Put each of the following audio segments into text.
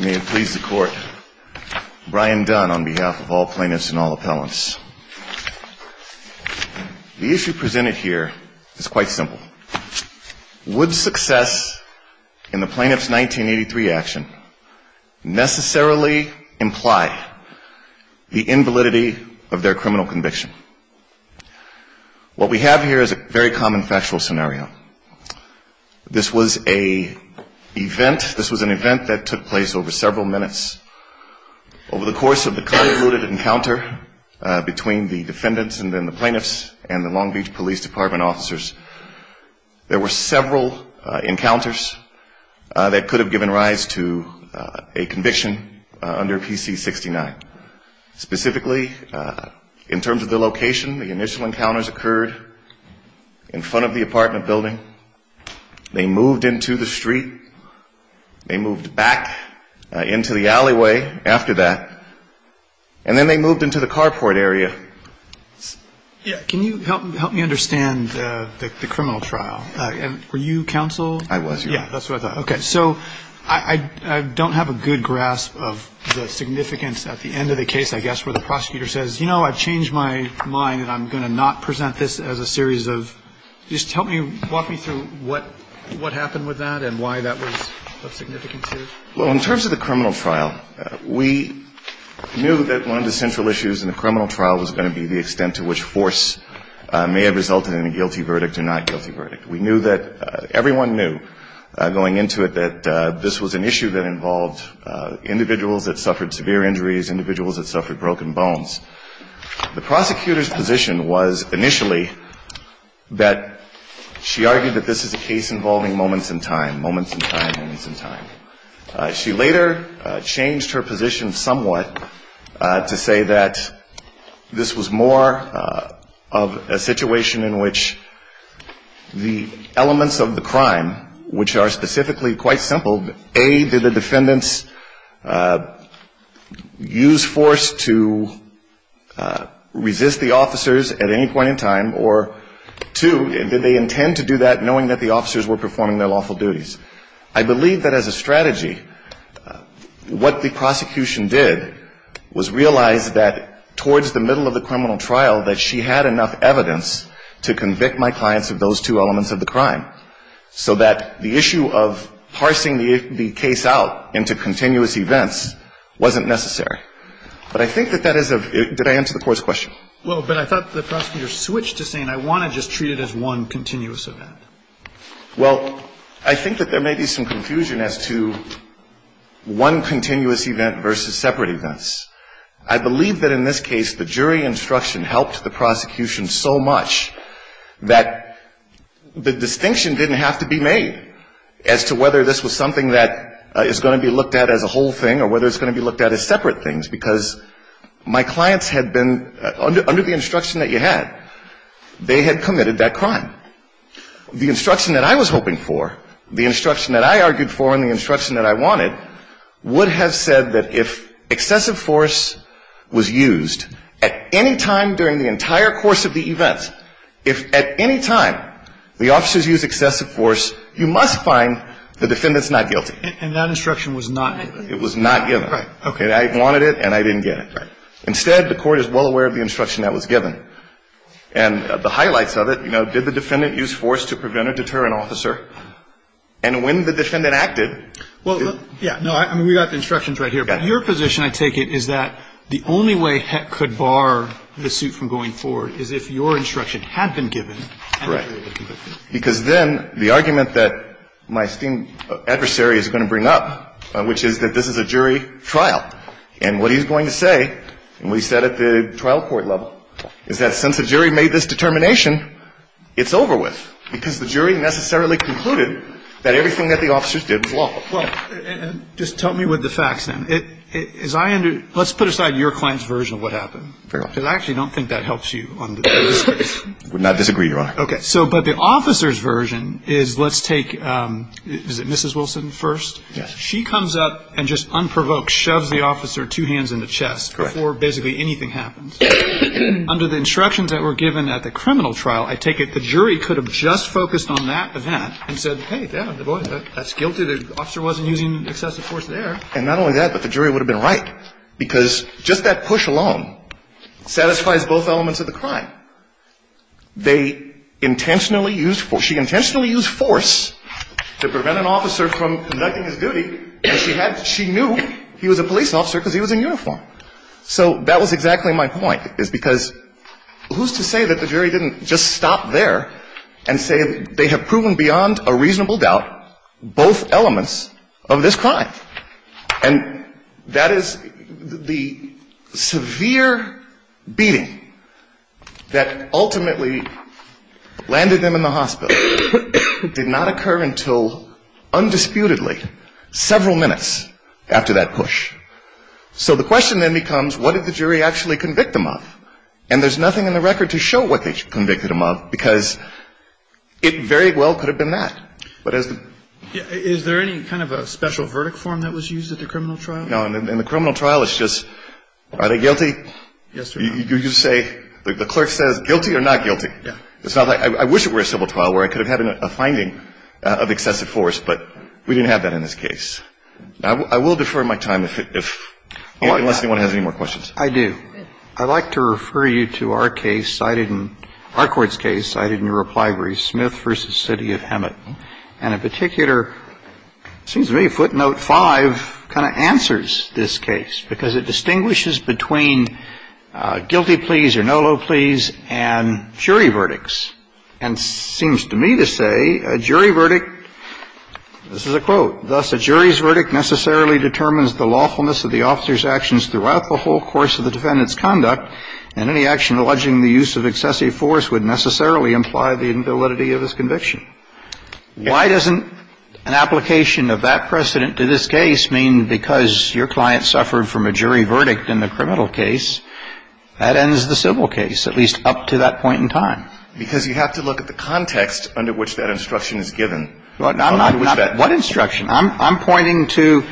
May it please the court, Brian Dunn on behalf of all plaintiffs and all appellants. The issue presented here is quite simple. Would success in the plaintiff's 1983 action necessarily imply the invalidity of their criminal conviction? What we have here is a very common factual scenario. This was an event that took place over several minutes. Over the course of the convoluted encounter between the defendants and then the plaintiffs and the Long Beach Police Department officers, there were several encounters that could have given rise to a conviction under PC-69. Specifically, in terms of the location, the initial encounters occurred in front of the apartment building. They moved into the street. They moved back into the alleyway after that. And then they moved into the carport area. Can you help me understand the criminal trial? Were you counsel? I was. That's what I thought. Okay. So I don't have a good grasp of the significance at the end of the case, I guess, where the prosecutor says, you know, I've changed my mind and I'm going to not present this as a series of, just help me, walk me through what happened with that and why that was of significance here. Well, in terms of the criminal trial, we knew that one of the central issues in the criminal trial was going to be the extent to which force may have resulted in a guilty verdict or not guilty verdict. We knew that, everyone knew, going into it, that this was an issue involving moments in time, moments in time, moments in time. She later changed her position somewhat to say that this was more of a situation in which the elements of the crime, which are specifically quite simple, A, did the defendants resist the officers at any point in time or, two, did they intend to do that knowing that the officers were performing their lawful duties. I believe that as a strategy, what the prosecution did was realize that towards the middle of the criminal trial that she had enough evidence to convict my clients of those two elements of the crime, so that the issue of parsing the case out into continuous events wasn't necessary. But I think that that is a — did I answer the Court's question? Well, but I thought the prosecutor switched to saying, I want to just treat it as one continuous event. Well, I think that there may be some confusion as to one continuous event versus separate events. I believe that in this case, the jury instruction helped the prosecution so much that the distinction didn't have to be made as to whether this was something that is going to be looked at as a whole thing or whether it's going to be looked at as separate things, because my clients had been, under the instruction that you had, they had committed that crime. The instruction that I was hoping for, the instruction that I argued for and the instruction that I wanted would have said that if excessive force was used at any time during the entire course of the event, if at any time the And that instruction was not given. It was not given. Right. Okay. And I wanted it and I didn't get it. Right. Instead, the Court is well aware of the instruction that was given. And the highlights of it, you know, did the defendant use force to prevent or deter an officer? And when the defendant acted — Well, yeah. No, I mean, we got the instructions right here. Got it. But your position, I take it, is that the only way Heck could bar the suit from going forward is if your instruction had been given and the jury would have convicted Because then the argument that my esteemed adversary is going to bring up, which is that this is a jury trial, and what he's going to say, and what he said at the trial court level, is that since the jury made this determination, it's over with, because the jury necessarily concluded that everything that the officers did was lawful. Well, just tell me what the facts, then. As I under — let's put aside your client's version of what happened. Fair enough. Because I actually don't think that helps you on the jury's case. I would not disagree, Your Honor. Okay. So, but the officer's version is, let's take — is it Mrs. Wilson first? Yes. She comes up and just unprovoked shoves the officer two hands in the chest before basically anything happens. Under the instructions that were given at the criminal trial, I take it the jury could have just focused on that event and said, hey, damn, boy, that's guilty. The officer wasn't using excessive force there. And not only that, but the jury would have been right, because just that push alone satisfies both elements of the crime. They intentionally used — she intentionally used force to prevent an officer from conducting his duty, and she had — she knew he was a police officer because he was in uniform. So that was exactly my point, is because who's to say that the jury didn't just stop there and say they have proven beyond a reasonable doubt both elements of this crime? And that is — the severe beating that ultimately landed them in the hospital did not occur until, undisputedly, several minutes after that push. So the question then becomes, what did the jury actually convict them of? And there's nothing in the record to show what they convicted them of, because it very well could have been that. But as the — Is there any kind of a special verdict form that was used at the criminal trial? No. And the criminal trial is just, are they guilty? Yes, Your Honor. You say — the clerk says, guilty or not guilty? Yeah. It's not like — I wish it were a civil trial where I could have had a finding of excessive force, but we didn't have that in this case. I will defer my time if — unless anyone has any more questions. I do. I'd like to refer you to our case cited in — our court's case cited in your reply, and it seems to me footnote 5 kind of answers this case, because it distinguishes between guilty pleas or no low pleas and jury verdicts. And it seems to me to say a jury verdict — this is a quote. Thus, a jury's verdict necessarily determines the lawfulness of the officer's actions throughout the whole course of the defendant's conduct, and any action alleging the use of excessive force would necessarily imply the invalidity of his conviction. Why doesn't an application of that precedent to this case mean because your client suffered from a jury verdict in the criminal case, that ends the civil case, at least up to that point in time? Because you have to look at the context under which that instruction is given. What instruction? I'm pointing to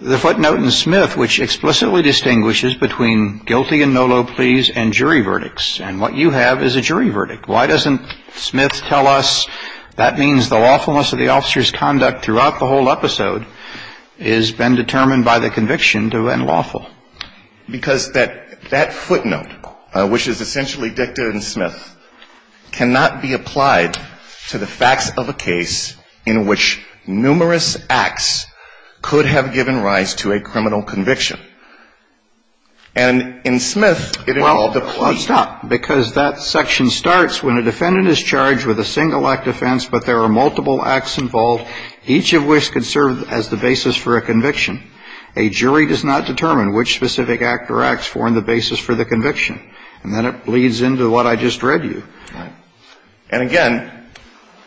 the footnote in Smith which explicitly distinguishes between guilty and no low pleas and jury verdicts, and what you have is a jury verdict. Why doesn't Smith tell us that means the lawfulness of the officer's conduct throughout the whole episode has been determined by the conviction to end lawful? Because that footnote, which is essentially dictated in Smith, cannot be applied to the facts of a case in which numerous acts could have given rise to a criminal conviction. And in Smith, it involved a plea. Well, stop. Because that section starts when a defendant is charged with a single-act offense but there are multiple acts involved, each of which could serve as the basis for a conviction. A jury does not determine which specific act or acts form the basis for the conviction. And then it bleeds into what I just read you. Right. And again,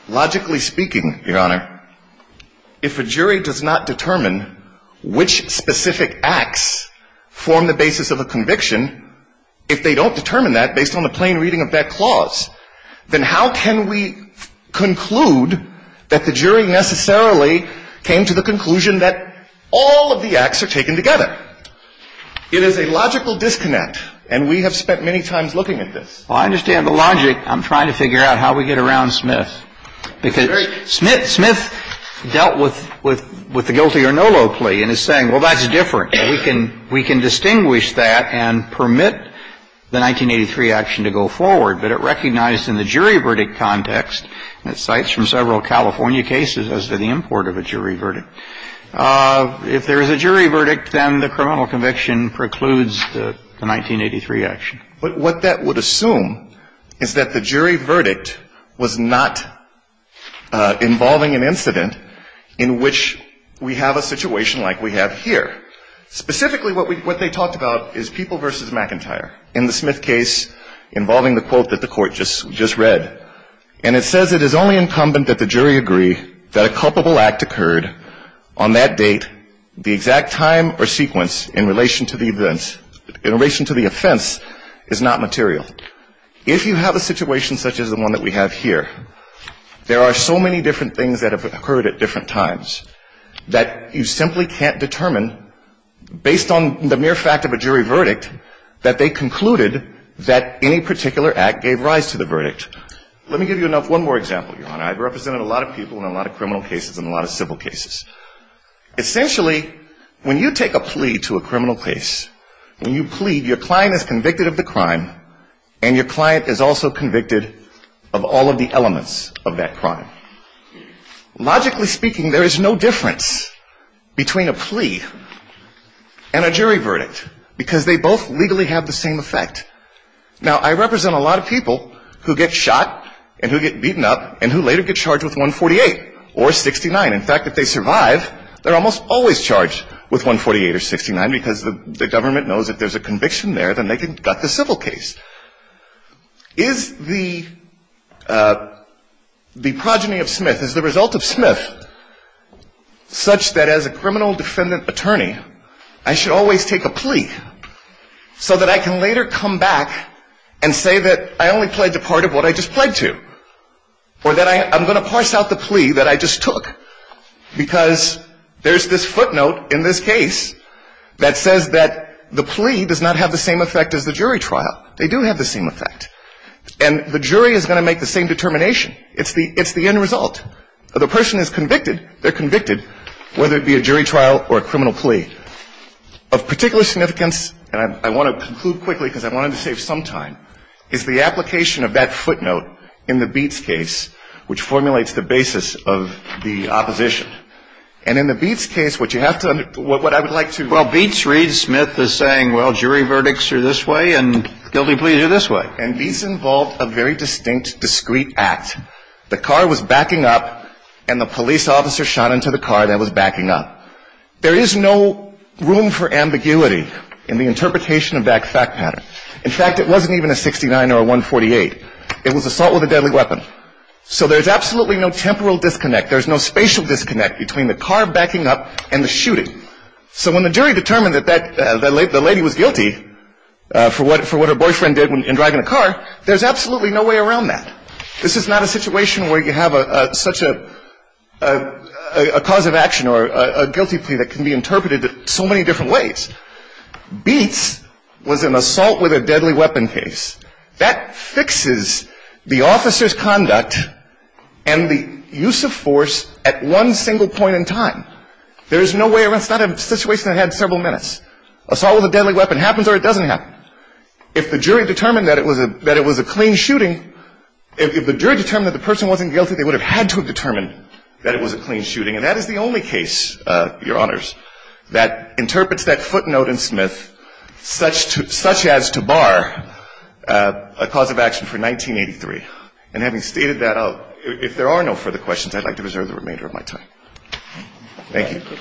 logically speaking, Your Honor, if a jury does not determine which specific acts form the basis of a conviction, if they don't determine that based on the plain reading of that clause, then how can we conclude that the jury necessarily came to the conclusion that all of the acts are taken together? It is a logical disconnect, and we have spent many times looking at this. Well, I understand the logic. I'm trying to figure out how we get around Smith. Because Smith dealt with the guilty or no low plea and is saying, well, that's different. We can distinguish that and permit the 1983 action to go forward. But it recognized in the jury verdict context, and it cites from several California cases as to the import of a jury verdict, if there is a jury verdict, then the criminal conviction precludes the 1983 action. But what that would assume is that the jury verdict was not involving an incident in which we have a situation like we have here. Specifically, what they talked about is People v. McIntyre in the Smith case involving the quote that the Court just read. And it says it is only incumbent that the jury agree that a culpable act occurred on that date, the exact time or sequence in relation to the offense is not material. If you have a situation such as the one that we have here, there are so many different things that have occurred at different times that you simply can't determine, based on the mere fact of a jury verdict, that they concluded that any particular act gave rise to the verdict. Let me give you one more example, Your Honor. I've represented a lot of people in a lot of criminal cases and a lot of civil cases. Essentially, when you take a plea to a criminal case, when you plead, your client is convicted of the crime and your client is also convicted of all of the elements of that crime. Logically speaking, there is no difference between a plea and a jury verdict because they both legally have the same effect. Now, I represent a lot of people who get shot and who get beaten up and who later get charged with 148 or 69. In fact, if they survive, they're almost always charged with 148 or 69 because the government knows if there's a conviction there, then they can gut the civil case. Is the progeny of Smith, is the result of Smith such that as a criminal defendant attorney, I should always take a plea so that I can later come back and say that I only pledged a part of what I just pledged to or that I'm going to parse out the plea that I just took? Because there's this footnote in this case that says that the plea does not have the same effect as the jury trial. They do have the same effect. And the jury is going to make the same determination. It's the end result. The person is convicted, they're convicted, whether it be a jury trial or a criminal plea. Of particular significance, and I want to conclude quickly because I wanted to save some time, is the application of that footnote in the Beetz case, which formulates the basis of the opposition. And in the Beetz case, what you have to understand, what I would like to... Well, Beetz reads Smith as saying, well, jury verdicts are this way and guilty pleas are this way. And Beetz involved a very distinct, discreet act. The car was backing up and the police officer shot into the car that was backing up. There is no room for ambiguity in the interpretation of that fact pattern. In fact, it wasn't even a 69 or a 148. It was assault with a deadly weapon. So there's absolutely no temporal disconnect. There's no spatial disconnect between the car backing up and the shooting. So when the jury determined that the lady was guilty for what her boyfriend did in driving a car, there's absolutely no way around that. This is not a situation where you have such a cause of action or a guilty plea that can be interpreted so many different ways. Beetz was an assault with a deadly weapon case. That fixes the officer's conduct and the use of force at one single point in time. There's no way around it. It's not a situation that had several minutes. Assault with a deadly weapon happens or it doesn't happen. If the jury determined that it was a clean shooting, if the jury determined that the person wasn't guilty, they would have had to have determined that it was a clean shooting. And that is the only case, Your Honors, that interprets that footnote in Smith such as to bar a cause of action for 1983. And having stated that, if there are no further questions, I'd like to reserve the remainder of my time. Thank you.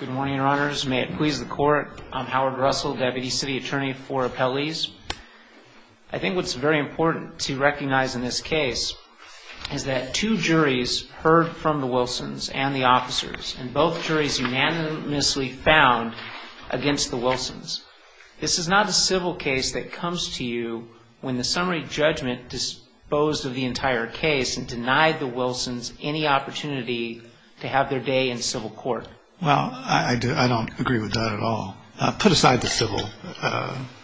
Good morning, Your Honors. May it please the Court. I'm Howard Russell, Deputy City Attorney for Appellees. I think what's very important to recognize in this case is that two juries heard from the Wilsons and the officers, and both juries unanimously found against the Wilsons. This is not a civil case that comes to you when the summary judgment disposed of the entire case and denied the Wilsons any opportunity to have their day in civil court. Well, I don't agree with that at all. Put aside the civil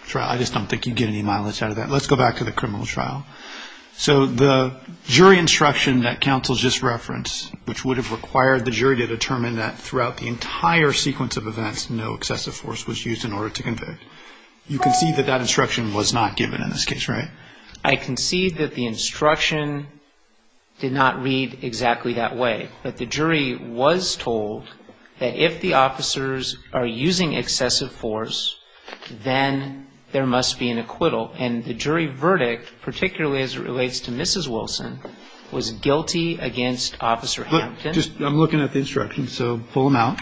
trial. I just don't think you'd get any mileage out of that. Let's go back to the criminal trial. So the jury instruction that counsel just referenced, which would have required the jury to determine that throughout the entire sequence of events, no excessive force was used in order to convict. You concede that that instruction was not given in this case, right? I concede that the instruction did not read exactly that way. But the jury was told that if the officers are using excessive force, then there must be an acquittal. And the jury verdict, particularly as it relates to Mrs. Wilson, was guilty against Officer Hampton. I'm looking at the instructions. So pull them out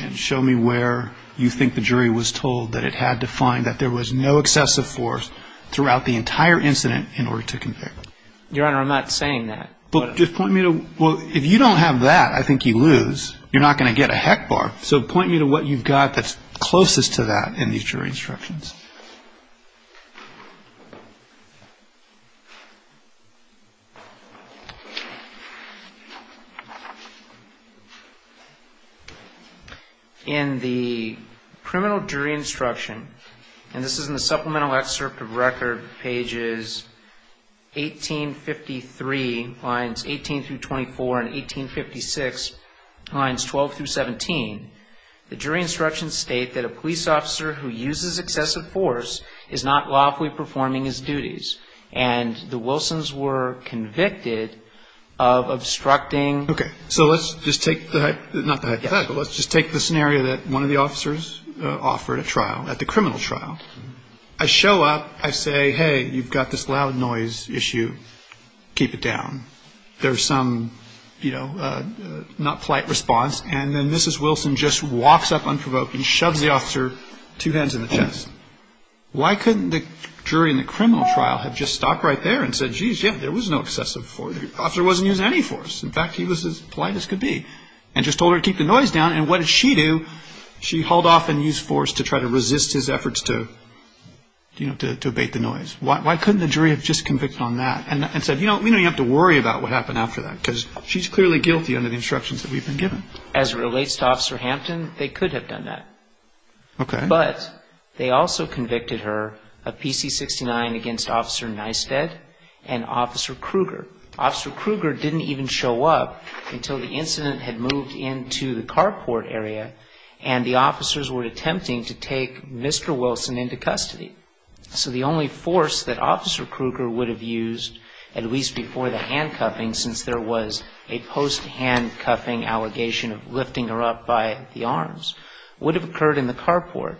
and show me where you think the jury was told that it had to find that there was no excessive force throughout the entire incident in order to convict. Your Honor, I'm not saying that. Well, just point me to, well, if you don't have that, I think you lose. You're not going to get a heck bar. So point me to what you've got that's closest to that in these jury instructions. In the criminal jury instruction, and this is in the supplemental excerpt of record pages 1853 lines 18 through 24 and 1856 lines 12 through 17, the jury instructions state that a police officer who uses excessive force is not lawfully performing his duties. And the Wilsons were convicted of obstructing. Okay. So let's just take the scenario that one of the officers offered at trial, at the criminal trial. I show up. I say, hey, you've got this loud noise issue. Keep it down. There's some, you know, not polite response. And then Mrs. Wilson just walks up unprovoked and shoves the officer two hands in the chest. Why couldn't the jury in the criminal trial have just stopped right there and said, geez, yeah, there was no excessive force. The officer wasn't using any force. In fact, he was as polite as could be and just told her to keep the noise down. And what did she do? She hauled off and used force to try to resist his efforts to, you know, to abate the noise. Why couldn't the jury have just convicted on that and said, you know, we know you have to worry about what happened after that because she's clearly guilty under the instructions that we've been given. As it relates to Officer Hampton, they could have done that. Okay. But they also convicted her of PC-69 against Officer Nystedt and Officer Kruger. Officer Kruger didn't even show up until the incident had moved into the carport area and the officers were attempting to take Mr. Wilson into custody. So the only force that Officer Kruger would have used, at least before the handcuffing since there was a post-handcuffing allegation of lifting her up by the arms, would have occurred in the carport.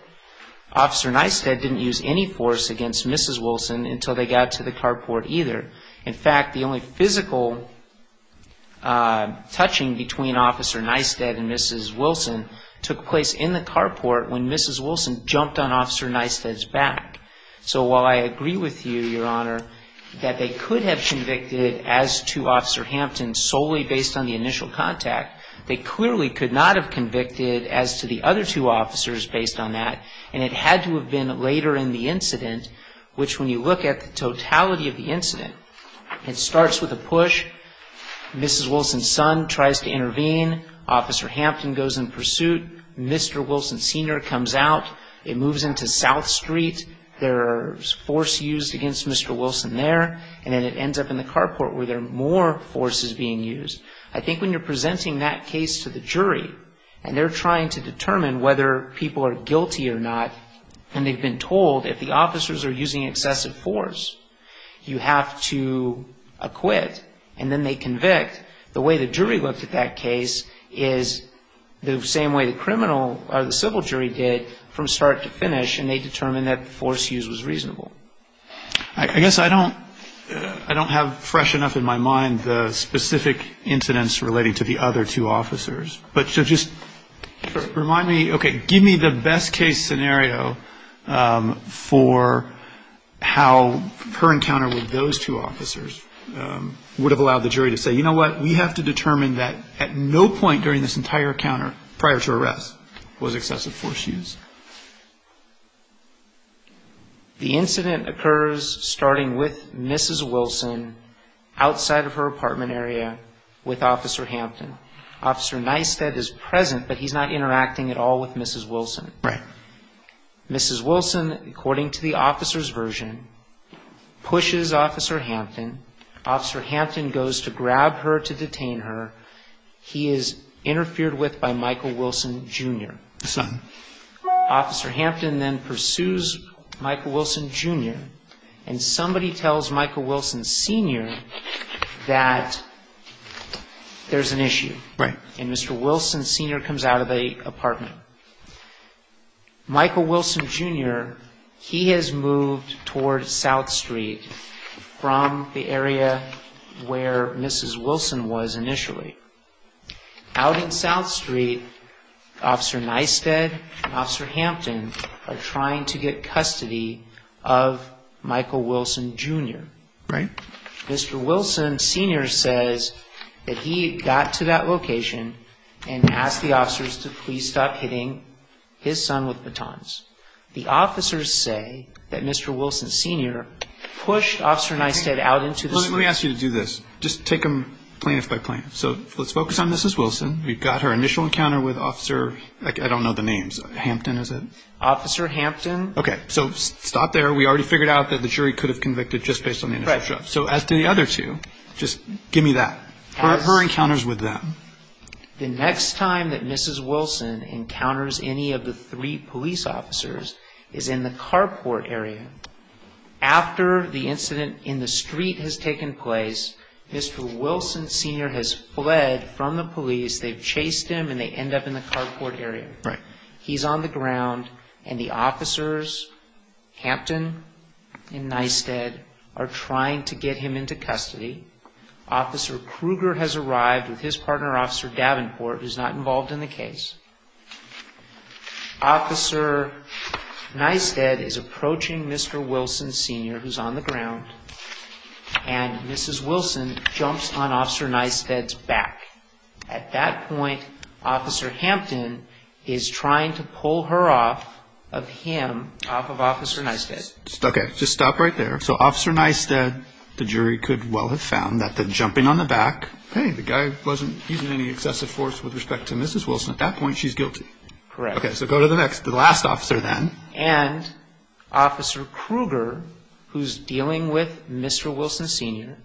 Officer Nystedt didn't use any force against Mrs. Wilson until they got to the carport either. In fact, the only physical touching between Officer Nystedt and Mrs. Wilson took place in the carport when Mrs. Wilson jumped on Officer Nystedt's back. So while I agree with you, Your Honor, that they could have convicted as to Officer Hampton solely based on the initial contact, they clearly could not have convicted as to the other two officers based on that and it had to have been later in the case. It starts with a push. Mrs. Wilson's son tries to intervene. Officer Hampton goes in pursuit. Mr. Wilson Sr. comes out. It moves into South Street. There's force used against Mr. Wilson there and then it ends up in the carport where there are more forces being used. I think when you're presenting that case to the jury and they're trying to determine whether people are guilty or not and they've been told if the officers are using excessive force, you have to acquit and then they convict, the way the jury looked at that case is the same way the criminal or the civil jury did from start to finish and they determined that the force used was reasonable. I guess I don't have fresh enough in my mind the specific incidents relating to the other two officers. But just remind me, okay, give me the best case scenario for how her encounter with those two officers would have allowed the jury to say, you know what, we have to determine that at no point during this entire encounter prior to arrest was excessive force used. The incident occurs starting with Mrs. Wilson outside of her apartment area with Officer Hampton. Officer Nystedt is present but he's not interacting at all with Mrs. Wilson. Right. Mrs. Wilson, according to the officer's version, pushes Officer Hampton. Officer Hampton goes to grab her to detain her. He is interfered with by Michael Wilson Jr. Son. Officer Hampton then pursues Michael Wilson Jr. and somebody tells Michael Wilson Sr. that there's an issue. Right. And Mr. Wilson Sr. comes out of the apartment. Michael Wilson Jr., he has moved toward South Street from the area where Mrs. Wilson was initially. Out in South Street, Officer Nystedt and Officer Hampton are trying to get custody of Michael Wilson Jr. Right. Mr. Wilson Sr. says that he got to that location and asked the officers to please stop hitting his son with batons. The officers say that Mr. Wilson Sr. pushed Officer Nystedt out into the street. Let me ask you to do this. Just take them plaintiff by plaintiff. So let's focus on Mrs. Wilson. We've got her initial encounter with Officer, I don't know the names, Hampton is it? Officer Hampton. Okay. So stop there. We already figured out that the jury could have convicted just based on the initial show. Right. So as to the other two, just give me that. Her encounters with them. The next time that Mrs. Wilson encounters any of the three police officers is in the carport area. After the incident in the street has taken place, Mr. Wilson Sr. has fled from the police. They've chased him and they end up in the carport area. Right. He's on the ground and the officers, Hampton and Nystedt, are trying to get him into custody. Officer Kruger has arrived with his partner, Officer Davenport, who's not involved in the case. Officer Nystedt is approaching Mr. Wilson Sr., who's on the ground, and Mrs. Wilson jumps on Officer Nystedt's back. At that point, Officer Hampton is trying to pull her off of him, off of Officer Nystedt. Okay. Just stop right there. So Officer Nystedt, the jury could well have found that the jumping on the back, hey, the guy wasn't using any excessive force with respect to Mrs. Wilson. At that point, she's guilty. Correct. Okay. So go to the next, the last officer then. And Officer Kruger, who's dealing with Mr. Wilson Sr.,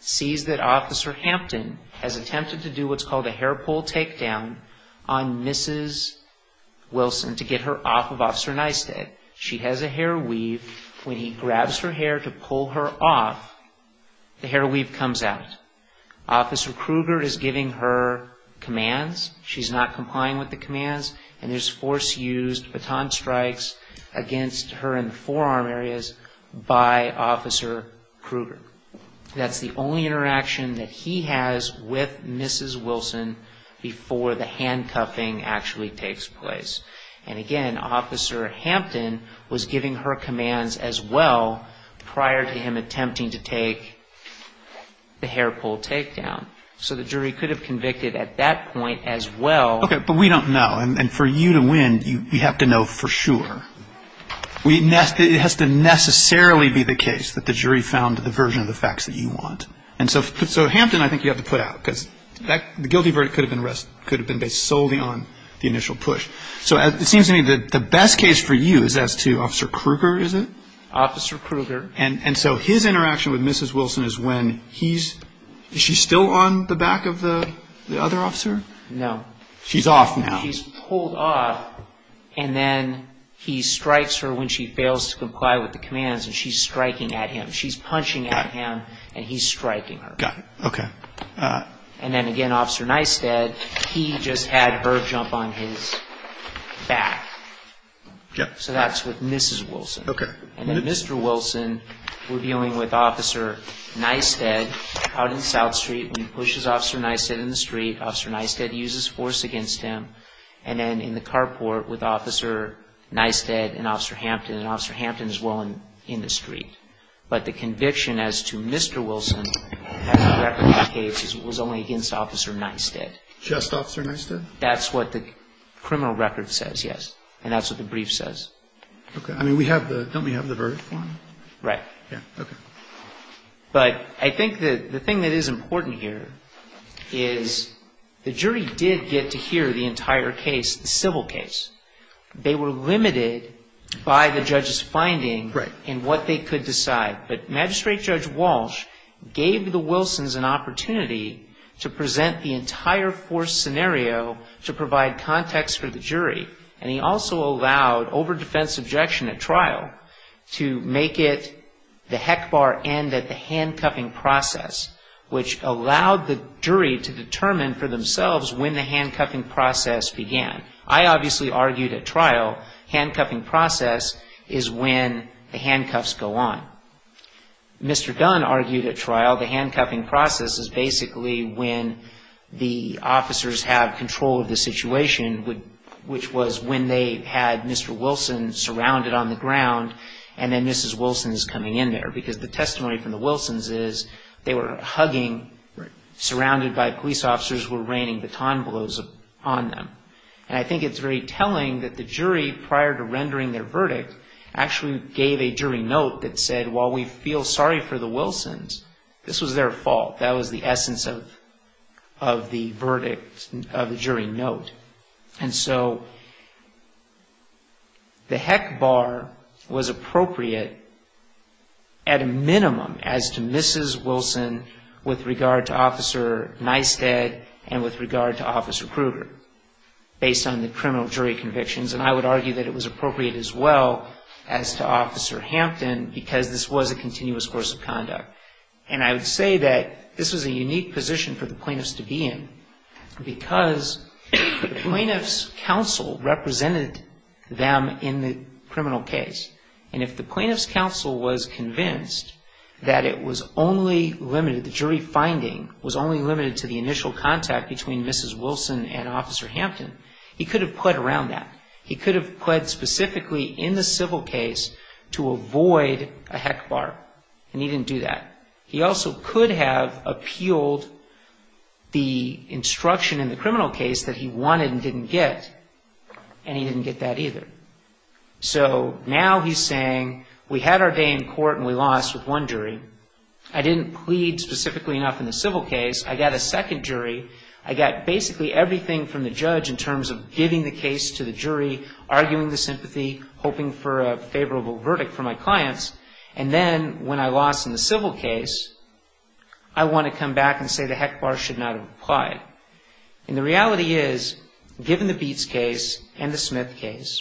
sees that Officer Hampton has attempted to do what's called a hair pull takedown on Mrs. Wilson to get her off of Officer Nystedt. She has a hair weave. When he grabs her hair to pull her off, the hair weave comes out. Officer Kruger is giving her commands. She's not complying with the commands. And there's force used, baton strikes against her in the forearm areas by Officer Kruger. That's the only interaction that he has with Mrs. Wilson before the handcuffing actually takes place. And again, Officer Hampton was giving her commands as well prior to him attempting to take the hair pull takedown. So the jury could have convicted at that point as well. Okay. But we don't know. And for you to win, you have to know for sure. It has to necessarily be the case that the jury found the version of the facts that you want. And so Hampton I think you have to put out, because the guilty verdict could have been based solely on the initial push. So it seems to me that the best case for you is as to Officer Kruger, is it? Officer Kruger. And so his interaction with Mrs. Wilson is when he's, is she still on the back of the other officer? No. She's off now. She's pulled off, and then he strikes her when she fails to comply with the commands, and she's striking at him. She's punching at him, and he's striking her. Got it. Okay. And then again, Officer Nystedt, he just had her jump on his back. So that's with Mrs. Wilson. And then Mr. Wilson, we're dealing with Officer Nystedt out in South Street. When he pushes Officer Nystedt in the street, Officer Nystedt uses force against him. And then in the carport with Officer Nystedt and Officer Hampton, and Officer Hampton is well in the street. But the conviction as to Mr. Wilson was only against Officer Nystedt. Just Officer Nystedt? That's what the criminal record says, yes. And that's what the brief says. Okay. I mean, we have the, don't we have the verdict for him? Right. Yeah. Okay. But I think that the thing that is important here is the jury did get to hear the entire case, the civil case. They were limited by the judge's finding in what they could decide. But Magistrate Judge Walsh gave the Wilsons an opportunity to present the entire forced scenario to provide context for the jury. And he also allowed over-defense objection at trial to make it, the heck bar end at the handcuffing process, which allowed the jury to determine for themselves when the handcuffing process began. I obviously argued at trial handcuffing process is when the handcuffs go on. Mr. Dunn argued at trial the handcuffing process is basically when the officers have control of the situation, which was when they had Mr. Wilson surrounded on the ground, and then Mrs. Wilson is coming in there. Because the testimony from the Wilsons is they were hugging, surrounded by police officers were raining baton blows on them. And I think it's very telling that the jury, prior to rendering their verdict, actually gave a jury note that said, while we feel sorry for the Wilsons, this was their fault. That was the essence of the verdict, of the jury note. And so the heck bar was appropriate at a minimum as to Mrs. Wilson's with regard to Officer Nystedt and with regard to Officer Kruger, based on the criminal jury convictions. And I would argue that it was appropriate as well as to Officer Hampton, because this was a continuous course of conduct. And I would say that this was a unique position for the plaintiffs to be in, because the plaintiffs' counsel represented them in the criminal case. And if the jury finding was only limited to the initial contact between Mrs. Wilson and Officer Hampton, he could have pled around that. He could have pled specifically in the civil case to avoid a heck bar, and he didn't do that. He also could have appealed the instruction in the criminal case that he wanted and didn't get, and he didn't get that either. So now he's saying, we had our first day in court and we lost with one jury. I didn't plead specifically enough in the civil case. I got a second jury. I got basically everything from the judge in terms of giving the case to the jury, arguing the sympathy, hoping for a favorable verdict for my clients. And then when I lost in the civil case, I want to come back and say the heck bar should not have applied. And the reality is, given the Beetz case and the Smith case,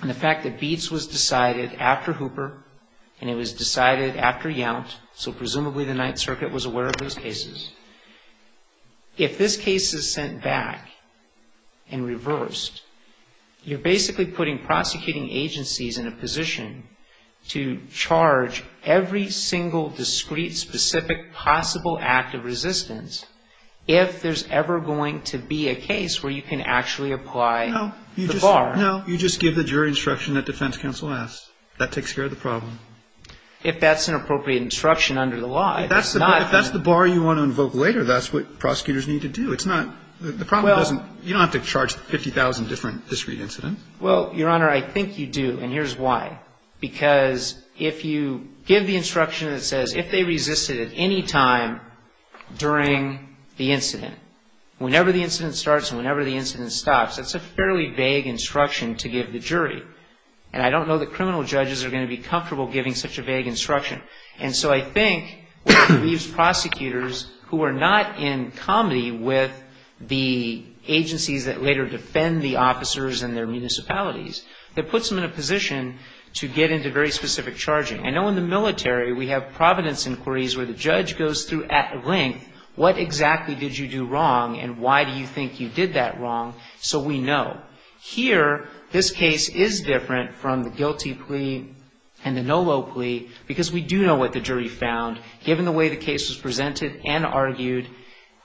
and the fact that Beetz was decided after Hooper and it was decided after Yount, so presumably the Ninth Circuit was aware of those cases, if this case is sent back and reversed, you're basically putting prosecuting agencies in a position to charge every single discrete, specific, possible act of resistance if there's ever going to be a case where you can actually apply the bar. No. You just give the jury instruction that defense counsel asks. That takes care of the problem. If that's an appropriate instruction under the law. If that's the bar you want to invoke later, that's what prosecutors need to do. It's not the problem doesn't you don't have to charge 50,000 different discrete incidents. Well, Your Honor, I think you do. And here's why. Because if you give the instruction that says if they resisted at any time during the incident, whenever the incident starts and whenever the incident stops, that's a fairly vague instruction to give the jury. And I don't know that criminal judges are going to be comfortable giving such a vague instruction. And so I think it leaves prosecutors who are not in comedy with the agencies that later defend the officers and their municipalities, that puts them in a position to get into very specific charging. I know in the military we have providence inquiries where the judge goes through at length what exactly did you do wrong and why do you think you did that wrong so we know. Here, this case is different from the GILTI plea and the NOLO plea because we do know what the jury found, given the way the case was presented and argued,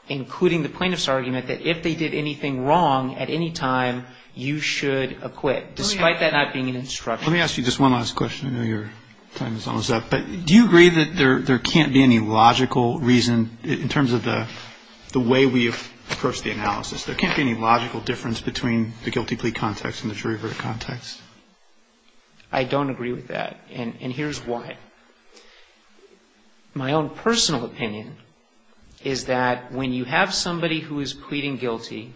including the plaintiff's argument that if they did anything wrong at any time, you should acquit, despite that not being an instruction. Let me ask you just one last question. I know your time is almost up. But do you agree that there can't be any logical reason, in terms of the way we approach the analysis, there can't be any logical difference between the GILTI plea context and the jury verdict context? I don't agree with that. And here's why. My own personal opinion is that when you have somebody who is pleading guilty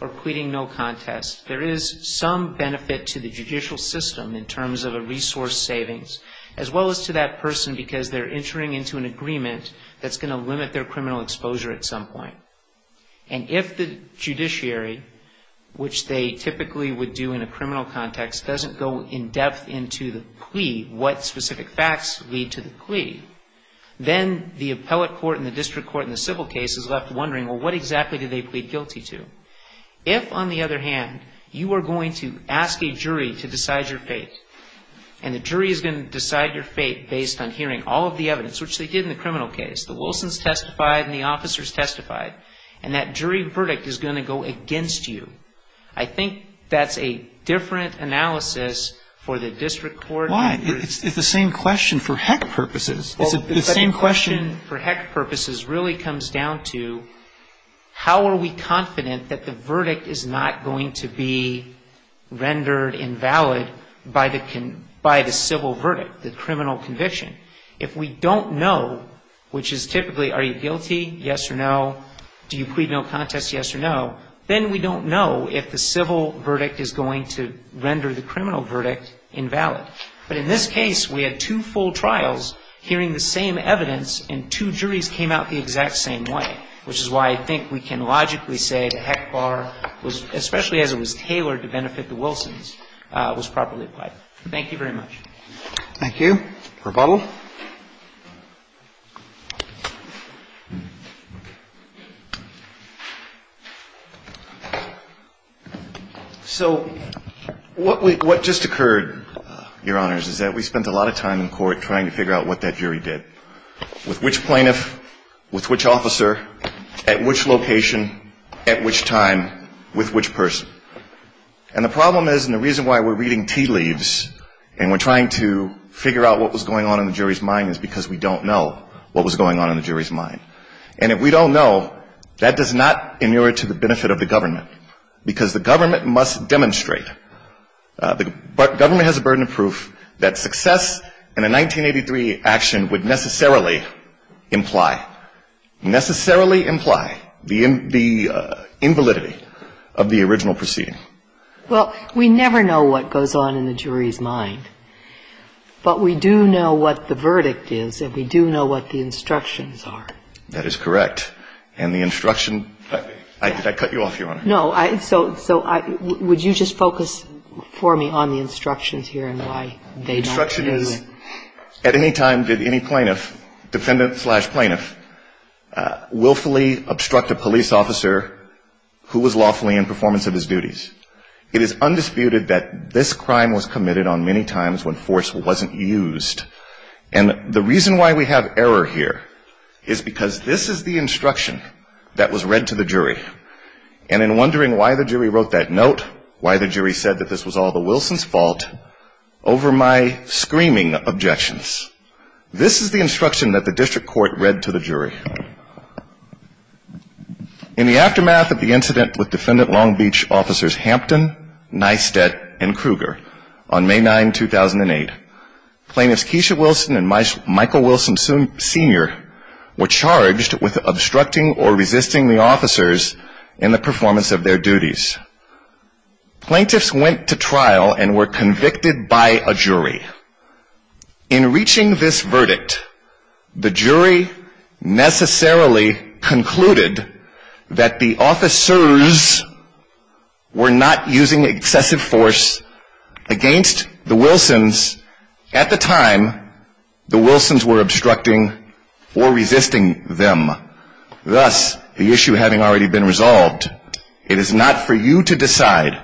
or pleading no contest, there is some benefit to the judicial system in terms of a person because they're entering into an agreement that's going to limit their criminal exposure at some point. And if the judiciary, which they typically would do in a criminal context, doesn't go in depth into the plea, what specific facts lead to the plea, then the appellate court and the district court and the civil case is left wondering, well, what exactly did they plead guilty to? If, on the other hand, you are going to ask a jury to decide your fate and the jury is going to decide your fate based on hearing all of the evidence, which they did in the criminal case. The Wilsons testified and the officers testified. And that jury verdict is going to go against you. I think that's a different analysis for the district court. Why? It's the same question for heck purposes. The same question for heck purposes really comes down to how are we confident that the verdict is not going to be rendered invalid by the civil verdict, the criminal conviction. If we don't know, which is typically are you guilty, yes or no, do you plead no contest, yes or no, then we don't know if the civil verdict is going to render the criminal verdict invalid. But in this case, we had two full trials hearing the same evidence and two juries came out the exact same way, which is why I think we can logically say the heck bar, especially as it was tailored to benefit the Wilsons, was properly applied. Thank you very much. Thank you. Rebuttal. So what just occurred, Your Honors, is that we spent a lot of time in court trying to figure out what that jury did. With which plaintiff, with which officer, at which location, at which time, with which person. And the problem is and the reason why we're reading tea leaves and we're trying to figure out what was going on in the jury's mind is because we don't know what was going on in the jury's mind. And if we don't know, that does not inure to the benefit of the government, because the government must demonstrate. The government has a burden of proof that success in a 1983 action would necessarily imply, necessarily imply the invalidity of the original proceeding. Well, we never know what goes on in the jury's mind, but we do know what the verdict is and we do know what the instructions are. That is correct. And the instruction, did I cut you off, Your Honor? No. So would you just focus for me on the instructions here and why they not? The instruction is at any time did any plaintiff, defendant slash plaintiff, willfully obstruct a police officer who was lawfully in performance of his duties. It is undisputed that this crime was committed on many times when force wasn't used. And the reason why we have error here is because this is the instruction that was read to the jury, and in wondering why the jury wrote that note, why the jury said that this was all the Wilson's fault, over my screaming objections. This is the instruction that the district court read to the jury. In the aftermath of the incident with defendant Long Beach officers Hampton, Neistat, and Kruger on May 9, 2008, plaintiffs Keisha Wilson and Michael Wilson Sr. were charged with obstructing or resisting the officers in the performance of their duties. Plaintiffs went to trial and were convicted by a jury. In reaching this verdict, the jury necessarily concluded that the officers were not using excessive force against the Wilsons at the time the Wilsons were obstructing the officers. They were either obstructing or resisting them. Thus, the issue having already been resolved, it is not for you to decide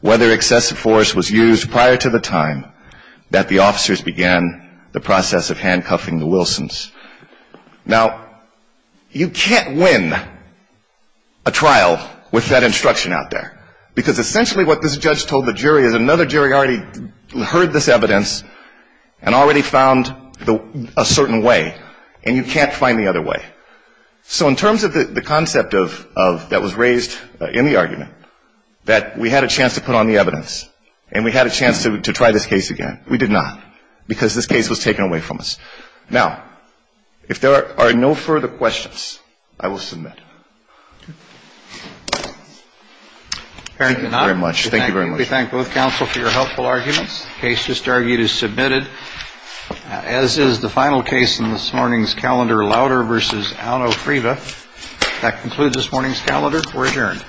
whether excessive force was used prior to the time that the officers began the process of handcuffing the Wilsons. Now, you can't win a trial with that instruction out there, because essentially what this judge told the jury is another jury already heard this evidence and already found a certain way, and you can't find the other way. So in terms of the concept that was raised in the argument, that we had a chance to put on the evidence, and we had a chance to try this case again, we did not, because this case was taken away from us. Now, if there are no further questions, I will submit. Thank you very much. We thank both counsel for your helpful arguments. The case just argued is submitted, as is the final case in this morning's calendar, Lauder v. Alno-Friva. That concludes this morning's calendar. We're adjourned.